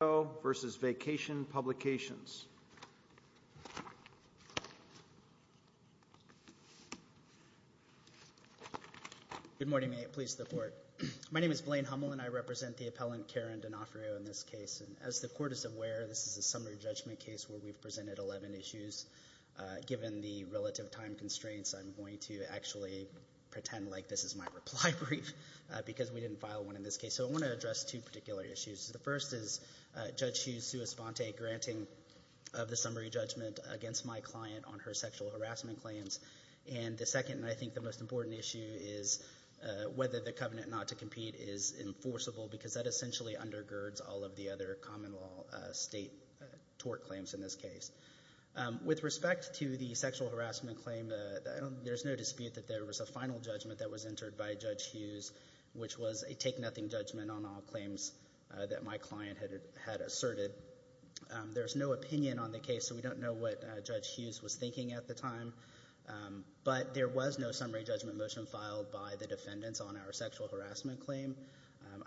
will now present the appellant, Karen D'Onofrio, in this case. As the Court is aware, this is a summary judgment case where we've presented 11 issues. Given the relative time constraints, I'm going to actually pretend like this is my reply brief because we didn't file one in this case. So I want to address two particular issues. The first is Judge Hughes' sua sponte granting of the summary judgment against my client on her sexual harassment claims. And the second, and I think the most important issue, is whether the covenant not to compete is enforceable because that essentially undergirds all of the other common law state tort claims in this case. With respect to the sexual harassment claim, there's no dispute that there was a final judgment that was entered by Judge Hughes, which was a take-nothing judgment on all claims that my client had asserted. There's no opinion on the case, so we don't know what Judge Hughes was thinking at the time. But there was no summary judgment motion filed by the defendants on our sexual harassment claim.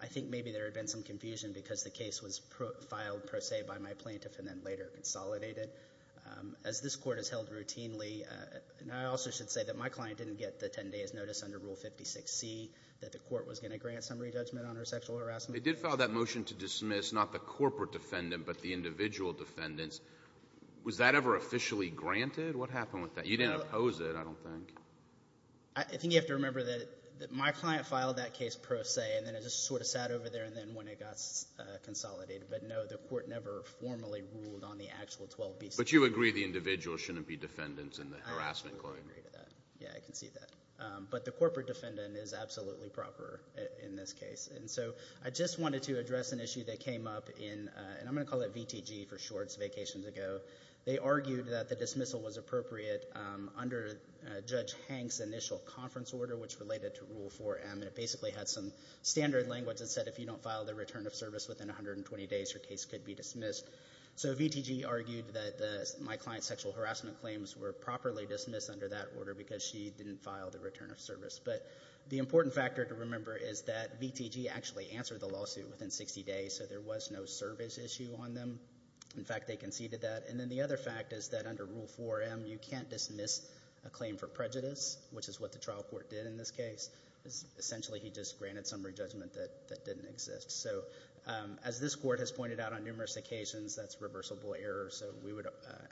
I think maybe there had been some confusion because the case was filed, per se, by my plaintiff and then later consolidated. As this Court has held routinely, and I also should say that my client didn't get the ten days' notice under Rule 56C that the Court was going to grant summary judgment on her sexual harassment claim. They did file that motion to dismiss not the corporate defendant, but the individual defendants. Was that ever officially granted? What happened with that? You didn't oppose it, I don't think. I think you have to remember that my client filed that case per se, and then it just sort of sat over there, and then when it got consolidated, but no, the Court never formally ruled on the actual 12B. But you agree the individual shouldn't be defendants in the harassment claim? I agree to that. Yeah, I can see that. But the corporate defendant is absolutely proper in this case. And so I just wanted to address an issue that came up in, and I'm going to call it VTG for short, it's vacations ago. They argued that the dismissal was appropriate under Judge Hank's initial conference order, which related to Rule 4M, and it basically had some standard language that said if you don't file the return of service within 120 days, your case could be dismissed. So VTG argued that my client's sexual harassment claims were properly dismissed under that order because she didn't file the return of service. But the important factor to remember is that VTG actually answered the lawsuit within 60 days, so there was no service issue on them. In fact, they conceded that. And then the other fact is that under Rule 4M, you can't dismiss a claim for prejudice, which is what the trial court did in this case. Essentially he just granted summary judgment that didn't exist. So as this court has pointed out on numerous occasions, that's reversible error, so we would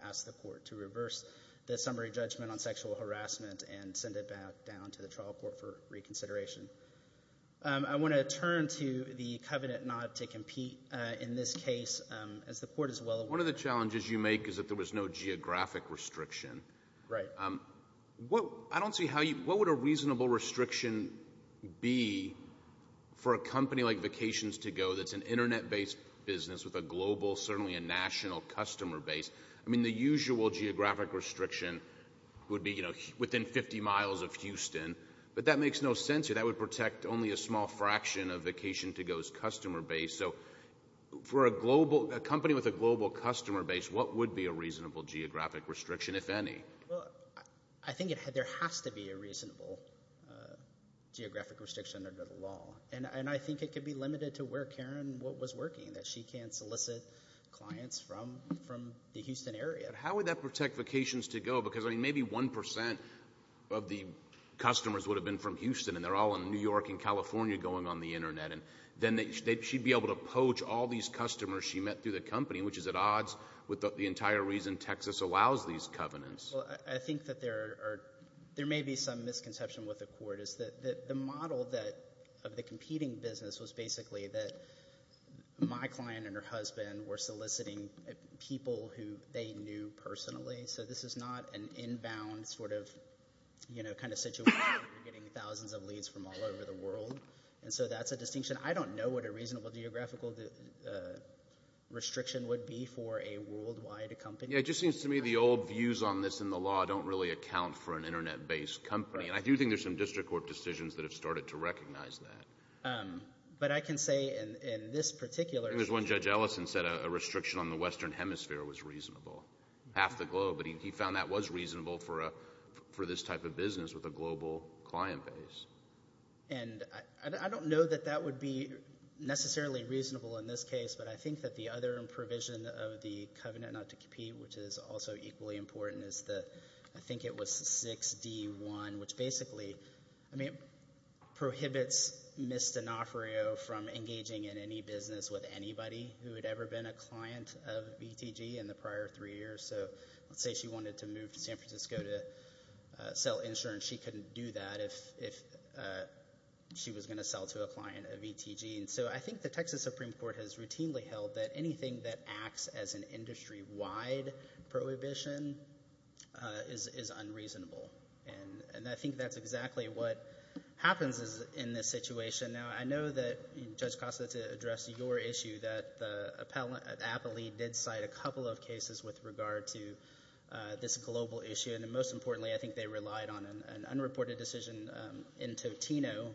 ask the court to reverse the summary judgment on sexual harassment and send it back down to the trial court for reconsideration. I want to turn to the covenant not to compete in this case, as the court is well aware. One of the challenges you make is that there was no geographic restriction. Right. I don't see how you, what would a reasonable restriction be for a company like Vacations to Go that's an internet-based business with a global, certainly a national, customer base? I mean, the usual geographic restriction would be, you know, within 50 miles of Houston, but that makes no sense here. That would protect only a small fraction of Vacations to Go's customer base. So for a company with a global customer base, what would be a reasonable geographic restriction, if any? Well, I think there has to be a reasonable geographic restriction under the law, and I think it could be limited to where Karen was working, that she can't solicit clients from the Houston area. How would that protect Vacations to Go? Because maybe 1% of the customers would have been from Houston, and they're all in New York and California going on the internet, and then she'd be able to poach all these customers she met through the company, which is at odds with the entire reason Texas allows these covenants. Well, I think that there may be some misconception with the court is that the model of the competing business was basically that my client and her husband were soliciting people who they knew personally. So this is not an inbound sort of, you know, kind of situation where you're getting thousands of leads from all over the world. And so that's a distinction. I don't know what a reasonable geographical restriction would be for a worldwide company. Yeah, it just seems to me the old views on this in the law don't really account for an internet-based company. And I do think there's some district court decisions that have started to recognize that. But I can say in this particular... I think there's one Judge Ellison said a restriction on the Western Hemisphere was reasonable. Half the globe. But he found that was reasonable for this type of business with a global client base. And I don't know that that would be necessarily reasonable in this case, but I think that the other provision of the covenant not to compete, which is also equally important, is that I think it was 6D1, which basically, I mean, prohibits Ms. D'Onofrio from engaging in any business with anybody who had ever been a client of VTG in the prior three years. So let's say she wanted to move to San Francisco to sell insurance. She couldn't do that if she was going to sell to a client of VTG. So I think the Texas Supreme Court has routinely held that anything that acts as an industry-wide prohibition is unreasonable. And I think that's exactly what happens in this situation. Now, I know that Judge Costa, to address your issue, that the appellee did cite a couple of cases with regard to this global issue. And most importantly, I think they relied on an unreported decision in Totino,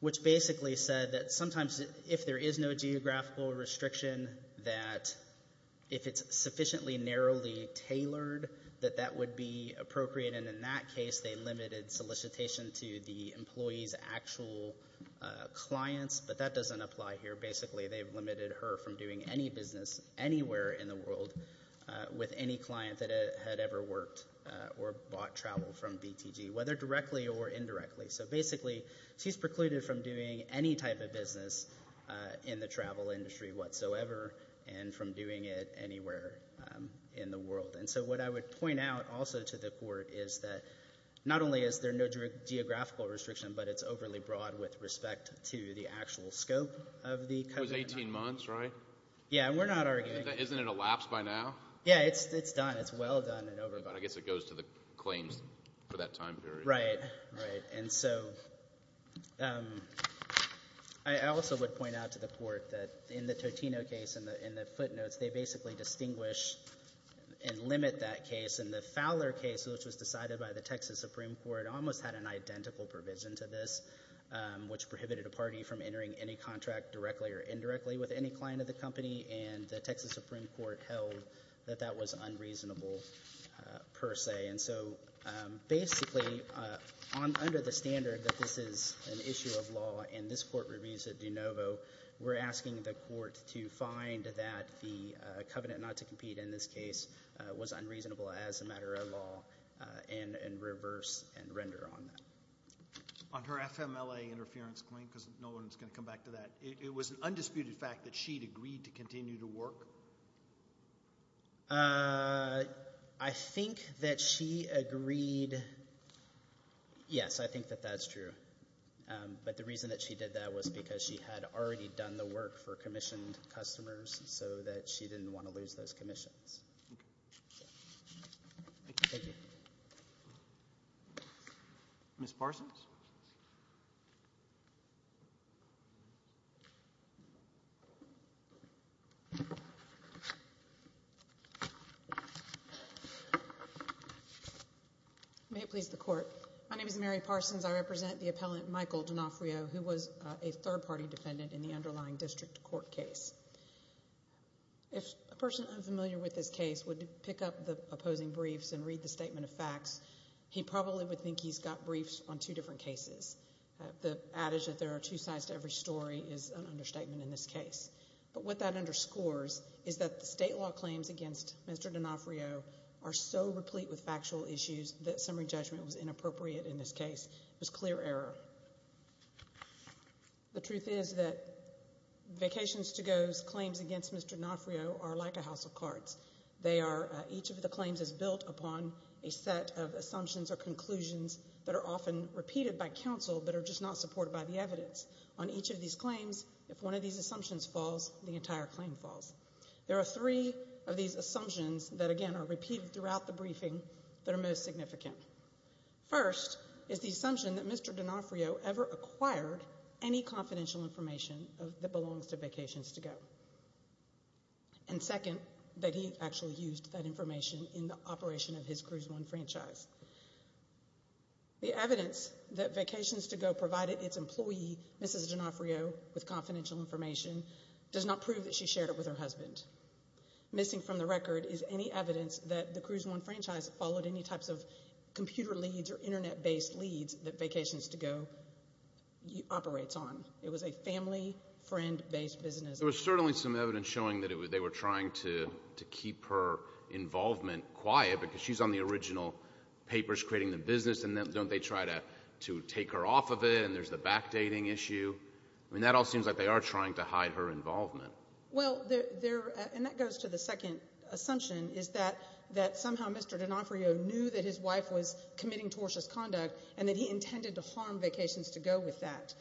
which basically said that sometimes if there is no geographical restriction, that if it's sufficiently narrowly tailored, that that would be appropriate. And in that case, they limited solicitation to the employee's actual clients, but that doesn't apply here. Basically, they've limited her from doing any business anywhere in the world with any client that had ever worked or bought travel from VTG, whether directly or indirectly. So basically, she's precluded from doing any type of business in the travel industry whatsoever and from doing it anywhere in the world. And so what I would point out also to the Court is that not only is there no geographical restriction, but it's overly broad with respect to the actual scope of the coverage. It was 18 months, right? Yeah, we're not arguing. Isn't it elapsed by now? Yeah, it's done. It's well done and over. But I guess it goes to the claims for that time period. Right. And so I also would point out to the Court that in the Totino case, in the footnotes, they basically distinguish and limit that case. And the Fowler case, which was decided by the Texas Supreme Court, almost had an identical provision to this, which prohibited a party from entering any contract directly or indirectly with any client of the company. And the Texas Supreme Court held that that was unreasonable per se. And so basically, under the standard that this is an issue of law and this Court reviews it de novo, we're asking the Court to find that the covenant not to compete in this case was unreasonable as a matter of law and reverse and render on that. On her FMLA interference claim, because Nolan's going to come back to that, it was an undisputed rule? I think that she agreed. Yes, I think that that's true. But the reason that she did that was because she had already done the work for commissioned customers so that she didn't want to lose those commissions. Ms. Parsons? May it please the Court, my name is Mary Parsons. I represent the appellant Michael D'Onofrio, who was a third-party defendant in the underlying district court case. If a person unfamiliar with this case would pick up the opposing briefs and read the statement of facts, he probably would think he's got briefs on two different cases. The adage that there are two sides to every story is an understatement in this case. But what that underscores is that the state law claims against Mr. D'Onofrio are so replete with factual issues that summary judgment was inappropriate in this case. It was clear error. The truth is that Vacations to Go's claims against Mr. D'Onofrio are like a house of cards. They are, each of the claims is built upon a set of assumptions or conclusions that are often repeated by counsel but are just not supported by the evidence. On each of these claims, if one of these assumptions falls, the entire claim falls. There are three of these assumptions that, again, are repeated throughout the briefing that are most significant. First is the assumption that Mr. D'Onofrio ever acquired any confidential information that belongs to Vacations to Go. And second, that he actually used that information in the operation of his Cruise One franchise. The evidence that Vacations to Go provided its employee, Mrs. D'Onofrio, with confidential information does not prove that she shared it with her husband. Missing from the record is any evidence that the Cruise One franchise followed any types of computer leads or internet-based leads that Vacations to Go operates on. It was a family, friend-based business. There was certainly some evidence showing that they were trying to keep her involvement quiet because she's on the original papers creating the business, and then don't they try to take her off of it, and there's the backdating issue. I mean, that all seems like they are trying to hide her involvement. Well, there — and that goes to the second assumption, is that somehow Mr. D'Onofrio knew that his wife was committing tortious conduct and that he intended to harm Vacations to Go with that.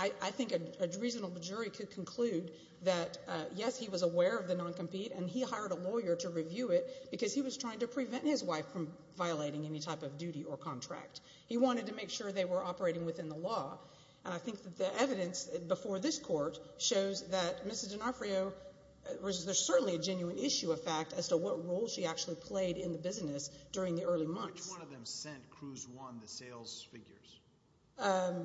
I think a reasonable jury could conclude that, yes, he was aware of the non-compete and he hired a lawyer to review it because he was trying to prevent his wife from violating any type of duty or contract. He wanted to make sure they were operating within the law, and I think that the evidence before this court shows that Mrs. D'Onofrio — there's certainly a genuine issue of fact as to what role she actually played in the business during the early months. Which one of them sent Cruise One the sales figures?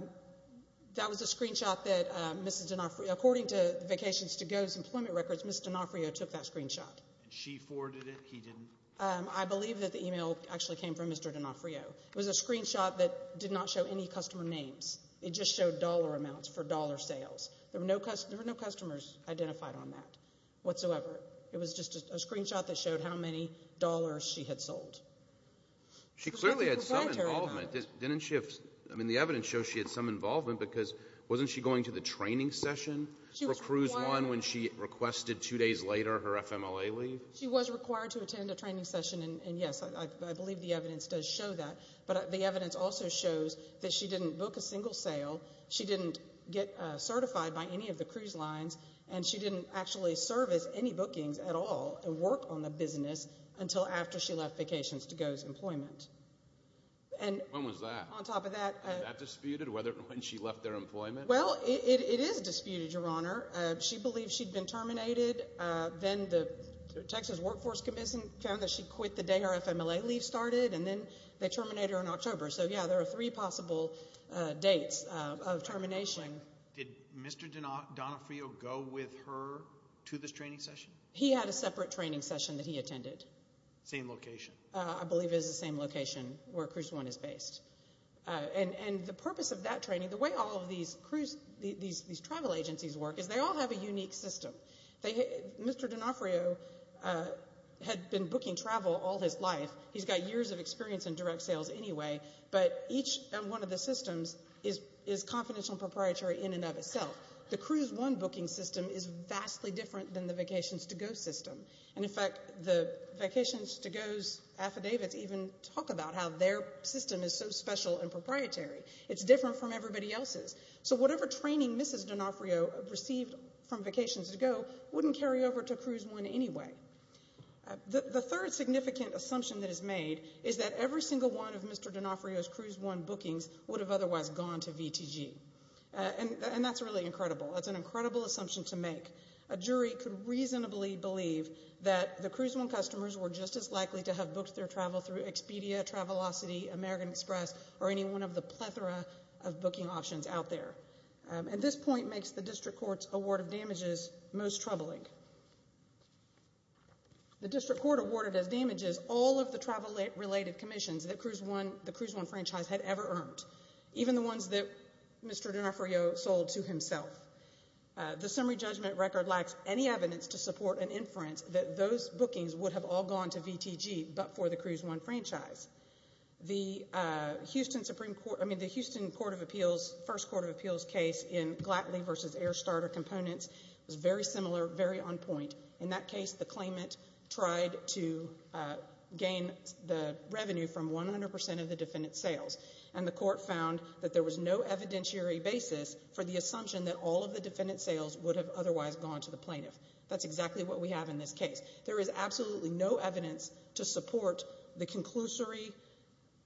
That was a screenshot that Mrs. D'Onofrio — according to Vacations to Go's employment records, Mrs. D'Onofrio took that screenshot. She forwarded it? He didn't? I believe that the email actually came from Mr. D'Onofrio. It was a screenshot that did not show any customer names. It just showed dollar amounts for dollar sales. There were no customers identified on that whatsoever. It was just a screenshot that showed how many dollars she had sold. She clearly had some involvement. The evidence shows she had some involvement because wasn't she going to the training session for Cruise One when she requested two days later her FMLA leave? She was required to attend a training session, and yes, I believe the evidence does show that. But the evidence also shows that she didn't book a single sale, she didn't get certified by any of the cruise lines, and she didn't actually service any bookings at all and work on the business until after she left Vacations to Go's employment. And — When was that? On top of that — Was that disputed? When she left their employment? Well, it is disputed, Your Honor. She believed she'd been terminated. Then the Texas Workforce Commission found that she'd quit the day her FMLA leave started, and then they terminated her in October. So yeah, there are three possible dates of termination. Did Mr. D'Onofrio go with her to this training session? He had a separate training session that he attended. Same location? I believe it is the same location where Cruise One is based. And the purpose of that training, the way all of these travel agencies work is they all have a unique system. Mr. D'Onofrio had been booking travel all his life. He's got years of experience in direct sales anyway, but each one of the systems is confidential and proprietary in and of itself. The Cruise One booking system is vastly different than the Vacations to Go system. And in fact, the Vacations to Go's affidavits even talk about how their system is so special and proprietary. It's different from everybody else's. So whatever training Mrs. D'Onofrio received from Vacations to Go wouldn't carry over to Cruise One anyway. The third significant assumption that is made is that every single one of Mr. D'Onofrio's And that's really incredible. That's an incredible assumption to make. A jury could reasonably believe that the Cruise One customers were just as likely to have booked their travel through Expedia, Travelocity, American Express, or any one of the plethora of booking options out there. And this point makes the District Court's award of damages most troubling. The District Court awarded as damages all of the travel-related commissions that the Cruise One franchise had ever earned. Even the ones that Mr. D'Onofrio sold to himself. The summary judgment record lacks any evidence to support an inference that those bookings would have all gone to VTG but for the Cruise One franchise. The Houston Supreme Court, I mean, the Houston Court of Appeals, first Court of Appeals case in Glatley v. Air Starter Components was very similar, very on point. In that case, the claimant tried to gain the revenue from 100% of the defendant's sales. And the court found that there was no evidentiary basis for the assumption that all of the defendant's sales would have otherwise gone to the plaintiff. That's exactly what we have in this case. There is absolutely no evidence to support the conclusory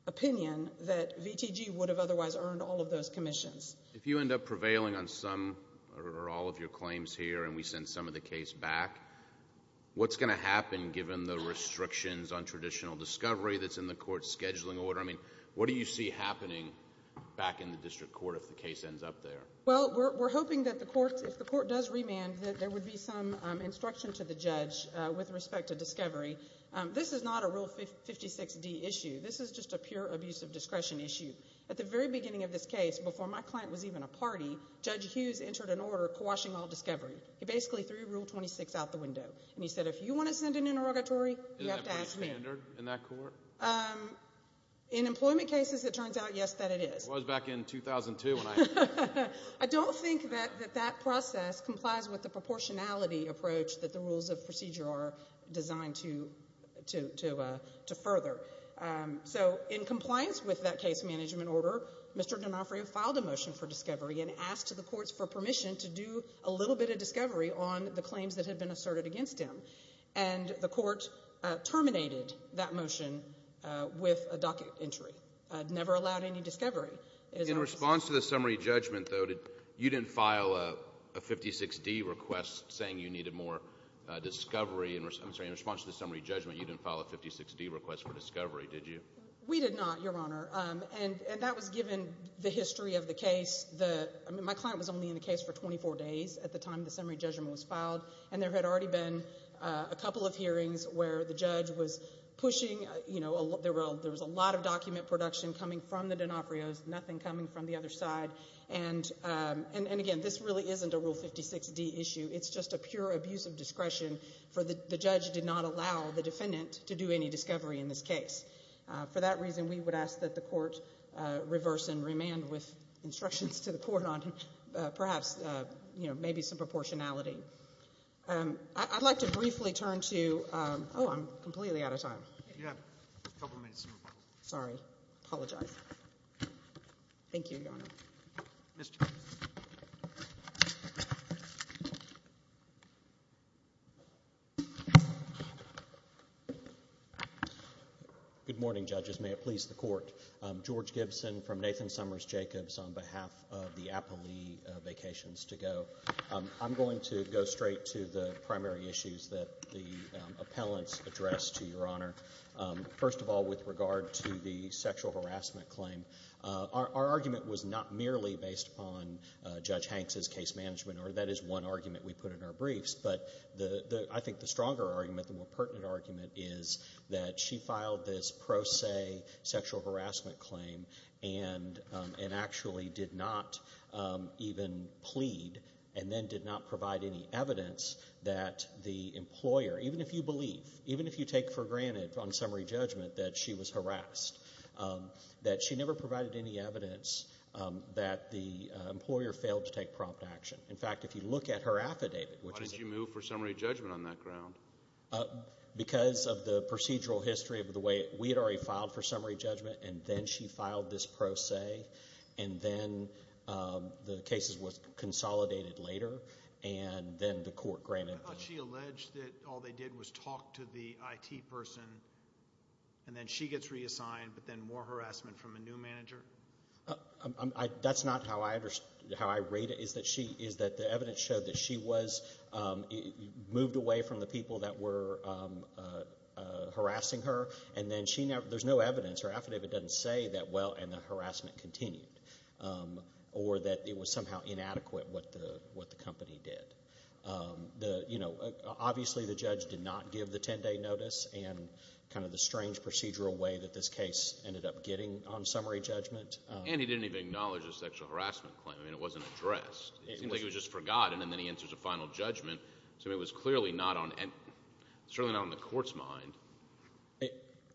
opinion that VTG would have otherwise earned all of those commissions. If you end up prevailing on some or all of your claims here and we send some of the case back, what's going to happen given the restrictions on traditional discovery that's in the court's scheduling order? I mean, what do you see happening back in the district court if the case ends up there? Well, we're hoping that if the court does remand, that there would be some instruction to the judge with respect to discovery. This is not a Rule 56D issue. This is just a pure abuse of discretion issue. At the very beginning of this case, before my client was even a party, Judge Hughes entered an order quashing all discovery. He basically threw Rule 26 out the window and he said, if you want to send an interrogatory, you have to ask me. Is that a standard in that court? In employment cases, it turns out, yes, that it is. It was back in 2002 when I entered. I don't think that that process complies with the proportionality approach that the rules of procedure are designed to further. So in compliance with that case management order, Mr. D'Onofrio filed a motion for discovery and asked the courts for permission to do a little bit of discovery on the claims that had been asserted against him. And the court terminated that motion with a docket entry. Never allowed any discovery. In response to the summary judgment, though, you didn't file a 56D request saying you needed more discovery. I'm sorry. In response to the summary judgment, you didn't file a 56D request for discovery, did you? We did not, Your Honor. And that was given the history of the case. My client was only in the case for 24 days at the time the summary judgment was filed, and there had already been a couple of hearings where the judge was pushing, you know, there was a lot of document production coming from the D'Onofrio's, nothing coming from the other side. And, again, this really isn't a Rule 56D issue. It's just a pure abuse of discretion for the judge did not allow the defendant to do any discovery in this case. For that reason, we would ask that the court reverse and remand with instructions to the I'd like to briefly turn to, oh, I'm completely out of time. You have a couple of minutes, Your Honor. Sorry. Apologize. Thank you, Your Honor. Good morning, Judges. May it please the Court. George Gibson from Nathan Summers Jacobs on behalf of the Appley Vacations to Go. I'm going to go straight to the primary issues that the appellants addressed to Your Honor. First of all, with regard to the sexual harassment claim, our argument was not merely based upon Judge Hanks' case management, or that is one argument we put in our briefs, but I think the stronger argument, the more pertinent argument is that she filed this pro se sexual harassment claim and then did not provide any evidence that the employer, even if you believe, even if you take for granted on summary judgment that she was harassed, that she never provided any evidence that the employer failed to take prompt action. In fact, if you look at her affidavit, which is a Why did you move for summary judgment on that ground? Because of the procedural history of the way we had already filed for summary judgment, and then she filed this pro se, and then the case was consolidated later, and then the court granted. I thought she alleged that all they did was talk to the IT person, and then she gets reassigned, but then more harassment from a new manager. That's not how I rate it, is that the evidence showed that she was moved away from the people that were harassing her, and then there's no evidence. Her affidavit doesn't say that, well, and the harassment continued, or that it was somehow inadequate what the company did. Obviously, the judge did not give the 10-day notice and kind of the strange procedural way that this case ended up getting on summary judgment. And he didn't even acknowledge the sexual harassment claim. It wasn't addressed. It seemed like it was just forgotten, and then he enters a final judgment. So it was clearly not on the court's mind.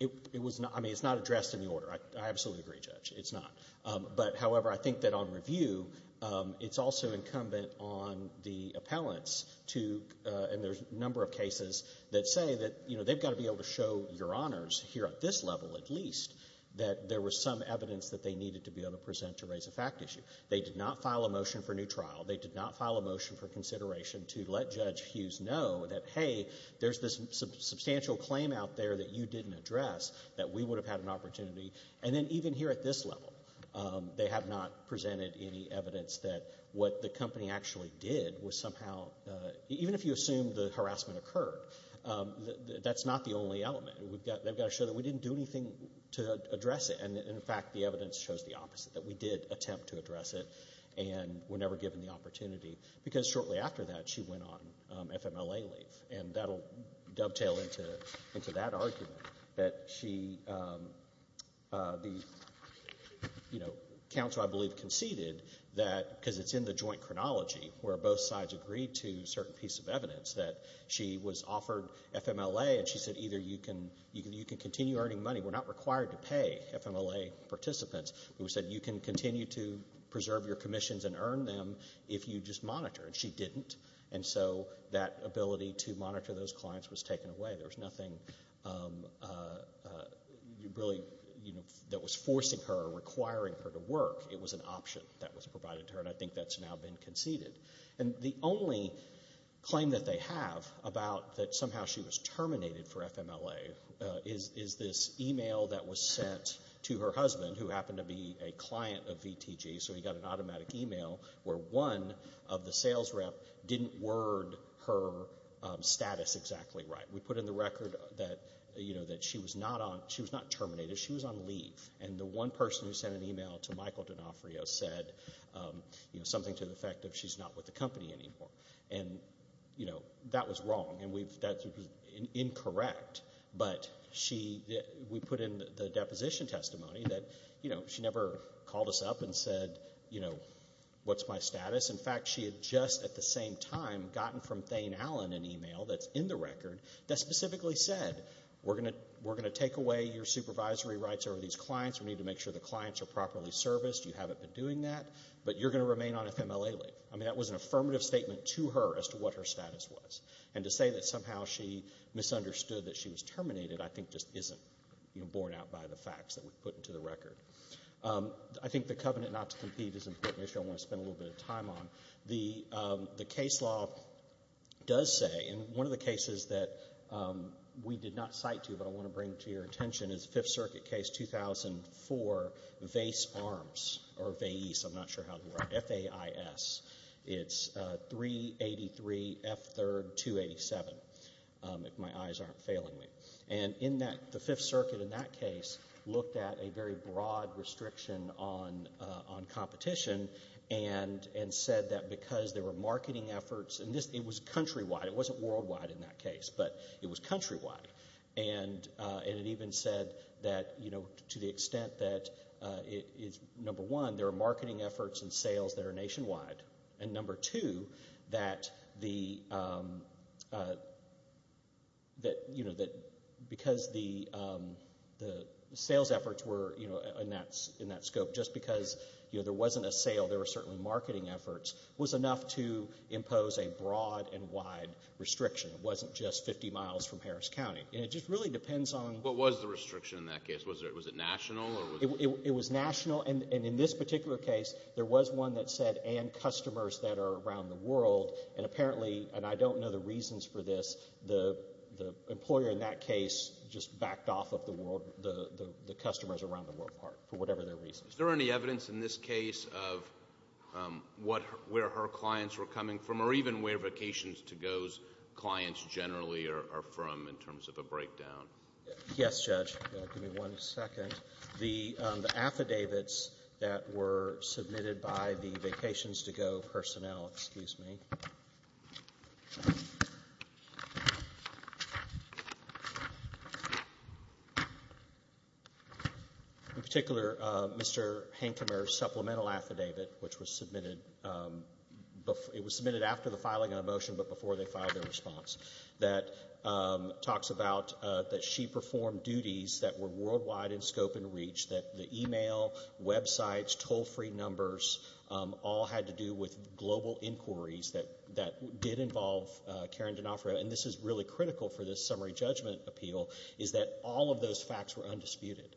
It's not addressed in the order. I absolutely agree, Judge. It's not. But, however, I think that on review, it's also incumbent on the appellants to, and there's a number of cases that say that they've got to be able to show your honors here at this level at least, that there was some evidence that they needed to be able to present to raise a fact issue. They did not file a motion for a new trial. They did not file a motion for consideration to let Judge Hughes know that, hey, there's this substantial claim out there that you didn't address that we would have had an opportunity. And then even here at this level, they have not presented any evidence that what the company actually did was somehow, even if you assume the harassment occurred, that's not the only element. They've got to show that we didn't do anything to address it. And, in fact, the evidence shows the opposite, that we did attempt to address it and were never given the opportunity because shortly after that she went on FMLA leave. And that will dovetail into that argument that she, you know, counsel, I believe, conceded that, because it's in the joint chronology where both sides agreed to a certain piece of evidence, that she was offered FMLA and she said either you can continue earning money. We're not required to pay FMLA participants. We said you can continue to preserve your commissions and earn them if you just monitor, and she didn't. And so that ability to monitor those clients was taken away. There was nothing really that was forcing her or requiring her to work. It was an option that was provided to her, and I think that's now been conceded. And the only claim that they have about that somehow she was terminated for FMLA is this e-mail that was sent to her husband, who happened to be a client of VTG, so he got an automatic e-mail, where one of the sales rep didn't word her status exactly right. We put in the record that, you know, that she was not terminated. She was on leave. And the one person who sent an e-mail to Michael D'Onofrio said, you know, something to the effect of she's not with the company anymore. And, you know, that was wrong, and that was incorrect. But we put in the deposition testimony that, you know, she never called us up and said, you know, what's my status. In fact, she had just at the same time gotten from Thane Allen an e-mail that's in the record that specifically said we're going to take away your supervisory rights over these clients. We need to make sure the clients are properly serviced. You haven't been doing that, but you're going to remain on FMLA leave. I mean, that was an affirmative statement to her as to what her status was. And to say that somehow she misunderstood that she was terminated I think just isn't, you know, borne out by the facts that we've put into the record. I think the covenant not to compete is an issue I want to spend a little bit of time on. The case law does say, and one of the cases that we did not cite to you, but I want to bring to your attention, is the Fifth Circuit case 2004, Vase Arms, or Vase. I'm not sure how to write it, F-A-I-S. It's 383 F-3-287, if my eyes aren't failing me. And the Fifth Circuit in that case looked at a very broad restriction on competition and said that because there were marketing efforts, and it was countrywide. It wasn't worldwide in that case, but it was countrywide. And it even said that, you know, to the extent that, number one, there are marketing efforts and sales that are nationwide, and number two, that because the sales efforts were in that scope, just because there wasn't a sale, there were certainly marketing efforts, was enough to impose a broad and wide restriction. It wasn't just 50 miles from Harris County. And it just really depends on— What was the restriction in that case? Was it national? It was national. And in this particular case, there was one that said, and customers that are around the world. And apparently, and I don't know the reasons for this, the employer in that case just backed off of the world, the customers around the world for whatever their reasons. Is there any evidence in this case of where her clients were coming from or even where Vacations to Go's clients generally are from in terms of a breakdown? Yes, Judge. Give me one second. The affidavits that were submitted by the Vacations to Go personnel. Excuse me. In particular, Mr. Hankemer's supplemental affidavit, which was submitted after the filing of the motion but before they filed their response, that talks about that she performed duties that were worldwide in scope and reach, that the email, websites, toll-free numbers, all had to do with global inquiries that did involve Karen D'Onofrio. And this is really critical for this summary judgment appeal, is that all of those facts were undisputed,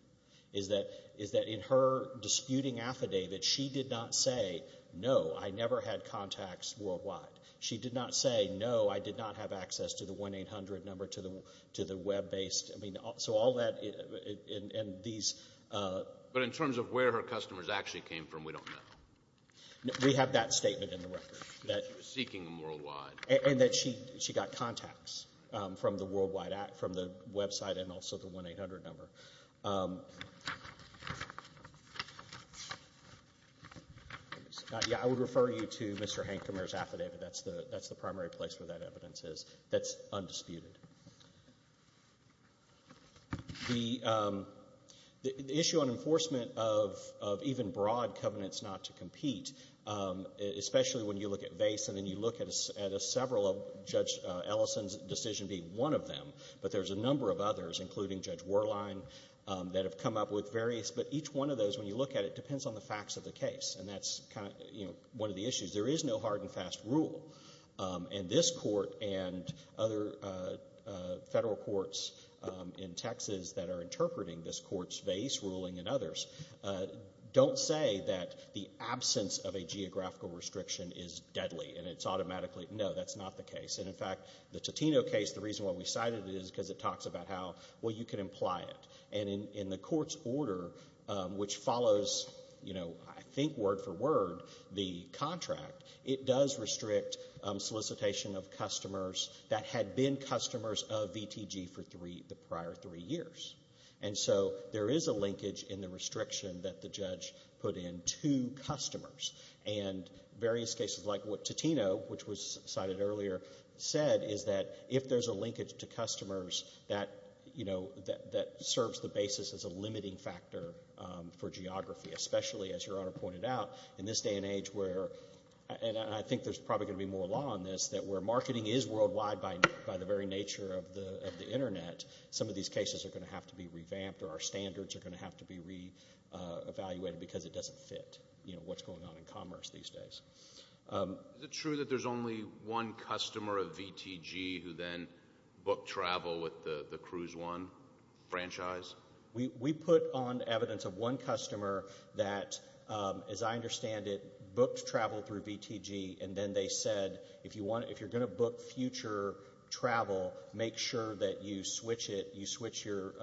is that in her disputing affidavit, she did not say, no, I never had contacts worldwide. She did not say, no, I did not have access to the 1-800 number, to the web-based. I mean, so all that and these. But in terms of where her customers actually came from, we don't know. We have that statement in the record. That she was seeking them worldwide. And that she got contacts from the website and also the 1-800 number. I would refer you to Mr. Hancomer's affidavit. That's the primary place where that evidence is. That's undisputed. The issue on enforcement of even broad covenants not to compete, especially when you look at vase and then you look at several of Judge Ellison's decision being one of them, but there's a number of others, including Judge Werlein, that have come up with various. But each one of those, when you look at it, depends on the facts of the case. And that's one of the issues. There is no hard and fast rule. And this court and other federal courts in Texas that are interpreting this court's vase ruling and others don't say that the absence of a geographical restriction is deadly. And it's automatically, no, that's not the case. And, in fact, the Totino case, the reason why we cited it is because it talks about how, well, you can imply it. And in the court's order, which follows, I think word for word, the contract, it does restrict solicitation of customers that had been customers of VTG for the prior three years. And so there is a linkage in the restriction that the judge put in to customers. And various cases, like what Totino, which was cited earlier, said, is that if there's a linkage to customers that serves the basis as a limiting factor for geography, especially, as Your Honor pointed out, in this day and age where, and I think there's probably going to be more law on this, that where marketing is worldwide by the very nature of the Internet, some of these cases are going to have to be revamped or our standards are going to have to be re-evaluated because it doesn't fit what's going on in commerce these days. Is it true that there's only one customer of VTG who then booked travel with the Cruise One franchise? We put on evidence of one customer that, as I understand it, booked travel through VTG and then they said, if you're going to book future travel, make sure that you switch it, you switch your,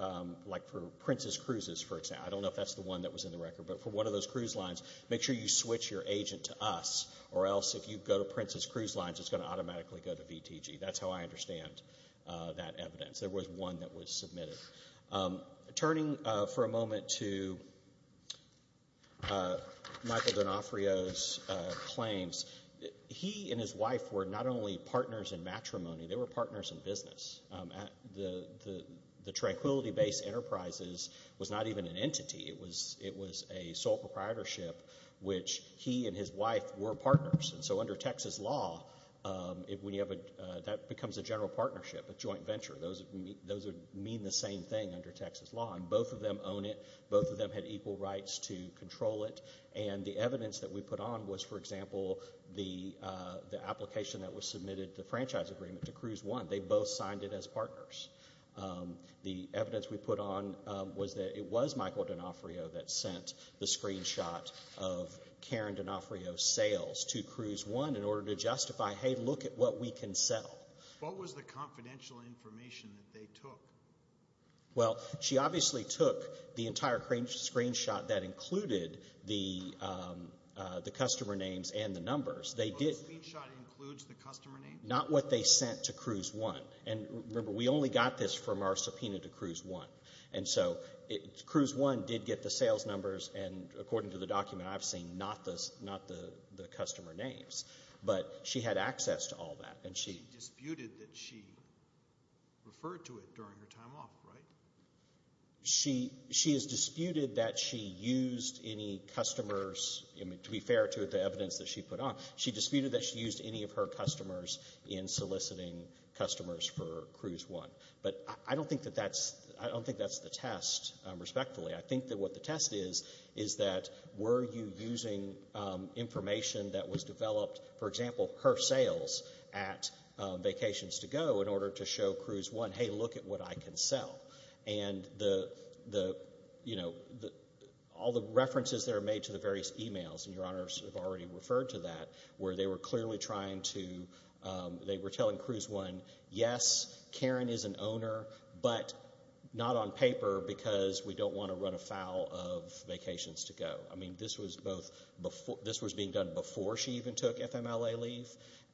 like for Prince's Cruises, for example, I don't know if that's the one that was in the record, but for one of those cruise lines, make sure you switch your agent to us or else, if you go to Prince's Cruise Lines, it's going to automatically go to VTG. That's how I understand that evidence. There was one that was submitted. Turning for a moment to Michael D'Onofrio's claims, he and his wife were not only partners in matrimony, they were partners in business. The Tranquility Base Enterprises was not even an entity. It was a sole proprietorship, which he and his wife were partners, and so under Texas law, that becomes a general partnership, a joint venture. Those would mean the same thing under Texas law, and both of them own it, both of them had equal rights to control it, and the evidence that we put on was, for example, the application that was submitted, the franchise agreement to Cruise One. They both signed it as partners. The evidence we put on was that it was Michael D'Onofrio that sent the screenshot of Karen D'Onofrio's sales to Cruise One in order to justify, hey, look at what we can sell. What was the confidential information that they took? Well, she obviously took the entire screenshot that included the customer names and the numbers. The screenshot includes the customer names? Not what they sent to Cruise One. Remember, we only got this from our subpoena to Cruise One, and so Cruise One did get the sales numbers, and according to the document, I've seen not the customer names, but she had access to all that. She disputed that she referred to it during her time off, right? She has disputed that she used any customers. To be fair to the evidence that she put on, she disputed that she used any of her customers in soliciting customers for Cruise One. But I don't think that's the test, respectfully. I think that what the test is is that were you using information that was developed, for example, her sales at Vacations to Go, in order to show Cruise One, hey, look at what I can sell. And all the references that are made to the various e-mails, and Your Honors have already referred to that, where they were clearly trying to, they were telling Cruise One, yes, Karen is an owner, but not on paper because we don't want to run afoul of Vacations to Go. I mean, this was being done before she even took FMLA leave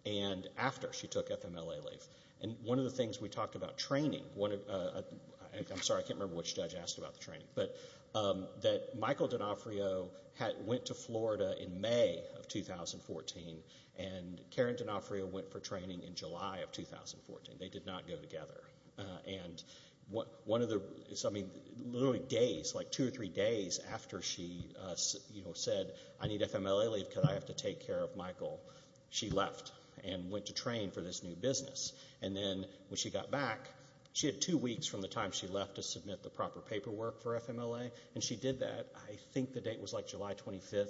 and after she took FMLA leave. And one of the things we talked about training, I'm sorry, I can't remember which judge asked about the training, but that Michael D'Onofrio went to Florida in May of 2014 and Karen D'Onofrio went for training in July of 2014. They did not go together. And one of the, I mean, literally days, like two or three days after she said, I need FMLA leave because I have to take care of Michael, she left and went to train for this new business. And then when she got back, she had two weeks from the time she left to submit the proper paperwork for FMLA. And she did that, I think the date was like July 25th,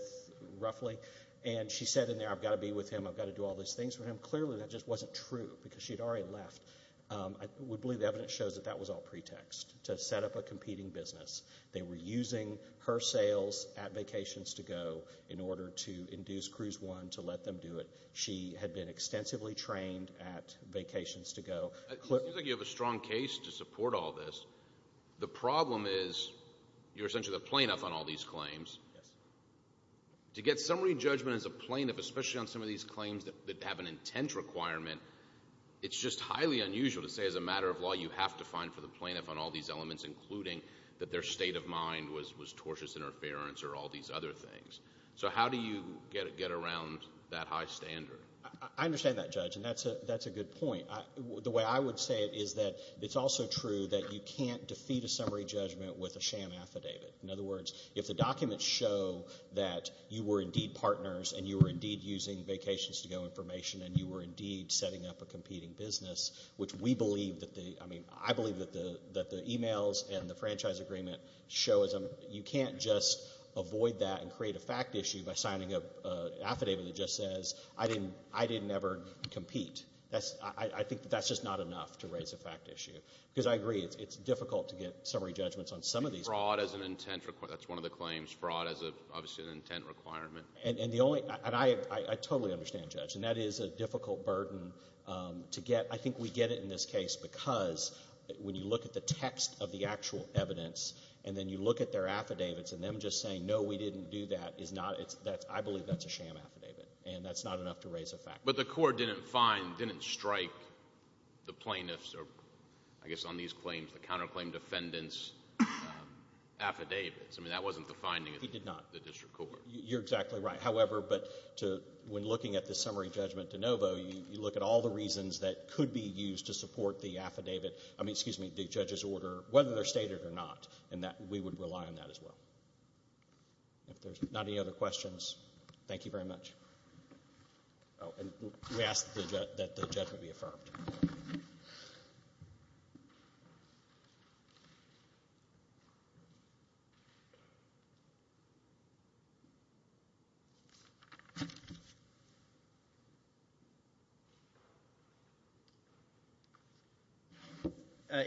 roughly. And she said in there, I've got to be with him, I've got to do all these things for him. Clearly that just wasn't true because she had already left. I would believe the evidence shows that that was all pretext to set up a competing business. They were using her sales at Vacations to Go in order to induce Cruise One to let them do it. She had been extensively trained at Vacations to Go. It seems like you have a strong case to support all this. The problem is you're essentially the plaintiff on all these claims. Yes. To get summary judgment as a plaintiff, especially on some of these claims that have an intent requirement, it's just highly unusual to say as a matter of law you have to find for the plaintiff on all these elements, including that their state of mind was tortuous interference or all these other things. So how do you get around that high standard? I understand that, Judge, and that's a good point. The way I would say it is that it's also true that you can't defeat a summary judgment with a sham affidavit. In other words, if the documents show that you were indeed partners and you were indeed using Vacations to Go information and you were indeed setting up a competing business, which I believe that the e-mails and the franchise agreement show, you can't just avoid that and create a fact issue by signing an affidavit that just says, I didn't ever compete. I think that that's just not enough to raise a fact issue. Because I agree, it's difficult to get summary judgments on some of these. Fraud as an intent requirement. That's one of the claims. Fraud as obviously an intent requirement. And I totally understand, Judge. And that is a difficult burden to get. I think we get it in this case because when you look at the text of the actual evidence and then you look at their affidavits and them just saying, no, we didn't do that, I believe that's a sham affidavit. And that's not enough to raise a fact issue. But the court didn't strike the plaintiffs, or I guess on these claims, the counterclaim defendants' affidavits. I mean, that wasn't the finding of the district court. It did not. You're exactly right. However, when looking at the summary judgment de novo, you look at all the reasons that could be used to support the affidavit, excuse me, the judge's order, whether they're stated or not, and we would rely on that as well. If there's not any other questions, thank you very much. Oh, and we ask that the judgment be affirmed.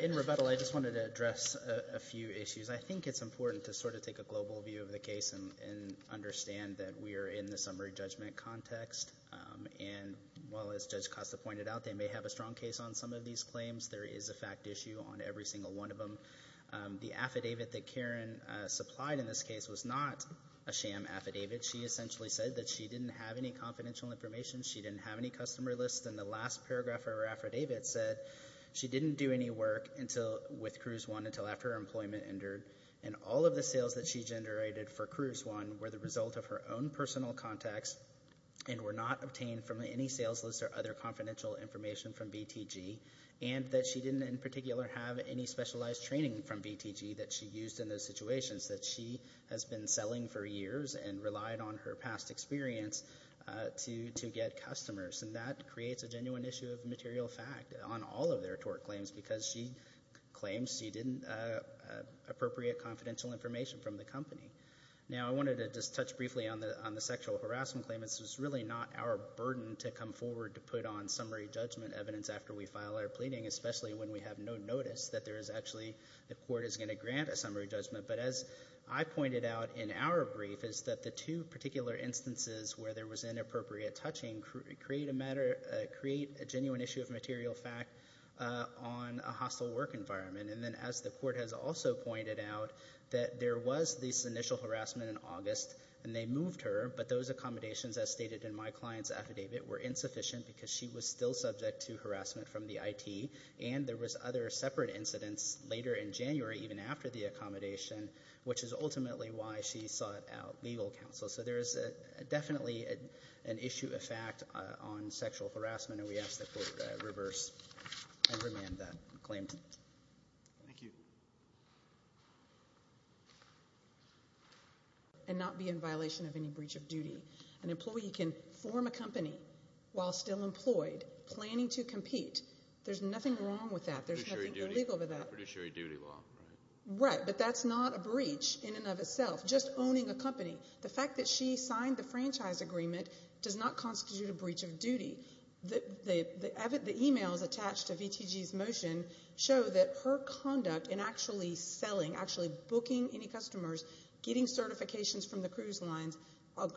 In rebuttal, I just wanted to address a few issues. I think it's important to sort of take a global view of the case and understand that we are in the summary judgment context. And while, as Judge Costa pointed out, they may have a strong case on some of these claims, there is a fact issue on every single one of them. The affidavit that Karen supplied in this case was not a sham affidavit. She essentially said that she didn't have any confidential information, she didn't have any customer lists, and the last paragraph of her affidavit said she didn't do any work with Cruise One until after her employment ended. And all of the sales that she generated for Cruise One were the result of her own personal contacts and were not obtained from any sales list or other confidential information from BTG, and that she didn't in particular have any specialized training from BTG that she used in those situations, that she has been selling for years and relied on her past experience to get customers. And that creates a genuine issue of material fact on all of their tort claims because she claims she didn't appropriate confidential information from the company. Now, I wanted to just touch briefly on the sexual harassment claim. This was really not our burden to come forward to put on summary judgment evidence after we file our pleading, especially when we have no notice that there is actually the court is going to grant a summary judgment. But as I pointed out in our brief, is that the two particular instances where there was inappropriate touching create a genuine issue of material fact on a hostile work environment. And then as the court has also pointed out, that there was this initial harassment in August, and they moved her, but those accommodations, as stated in my client's affidavit, were insufficient because she was still subject to harassment from the IT, and there was other separate incidents later in January, even after the accommodation, which is ultimately why she sought out legal counsel. So there is definitely an issue of fact on sexual harassment, and we ask that the court reverse and remand that claim. Thank you. And not be in violation of any breach of duty. An employee can form a company while still employed, planning to compete. There's nothing wrong with that. There's nothing illegal about that. Right, but that's not a breach in and of itself. Just owning a company. The fact that she signed the franchise agreement does not constitute a breach of duty. The emails attached to VTG's motion show that her conduct in actually selling, actually booking any customers, getting certifications from the cruise lines,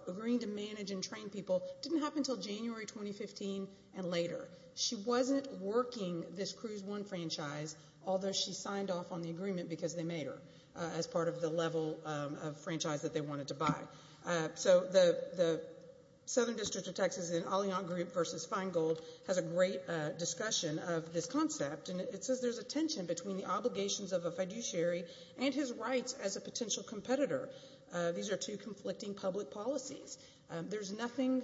agreeing to manage and train people, didn't happen until January 2015 and later. She wasn't working this Cruise One franchise, although she signed off on the agreement because they made her as part of the level of franchise that they wanted to buy. So the Southern District of Texas in Alliant Group v. Feingold has a great discussion of this concept, and it says there's a tension between the obligations of a fiduciary and his rights as a potential competitor. These are two conflicting public policies. There's nothing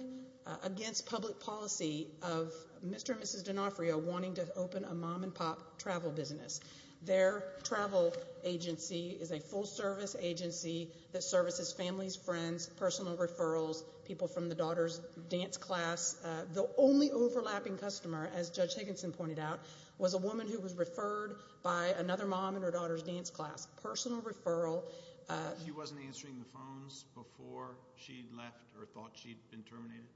against public policy of Mr. and Mrs. D'Onofrio wanting to open a mom-and-pop travel business. Their travel agency is a full-service agency that services families, friends, personal referrals, people from the daughter's dance class. The only overlapping customer, as Judge Higginson pointed out, was a woman who was referred by another mom in her daughter's dance class. Personal referral. She wasn't answering the phones before she left or thought she'd been terminated?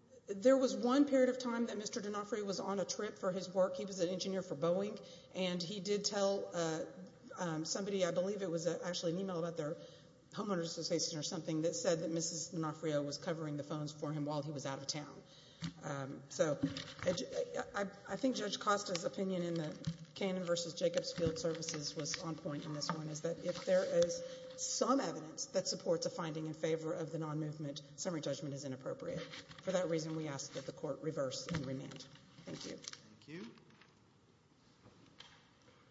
There was one period of time that Mr. D'Onofrio was on a trip for his work. He was an engineer for Boeing, and he did tell somebody, I believe it was actually an email about their homeowner's association or something, that said that Mrs. D'Onofrio was covering the phones for him while he was out of town. So I think Judge Costa's opinion in the Cannon v. Jacobs field services was on point in this one, is that if there is some evidence that supports a finding in favor of the non-movement, summary judgment is inappropriate. For that reason, we ask that the court reverse and remand. Thank you. Thank you.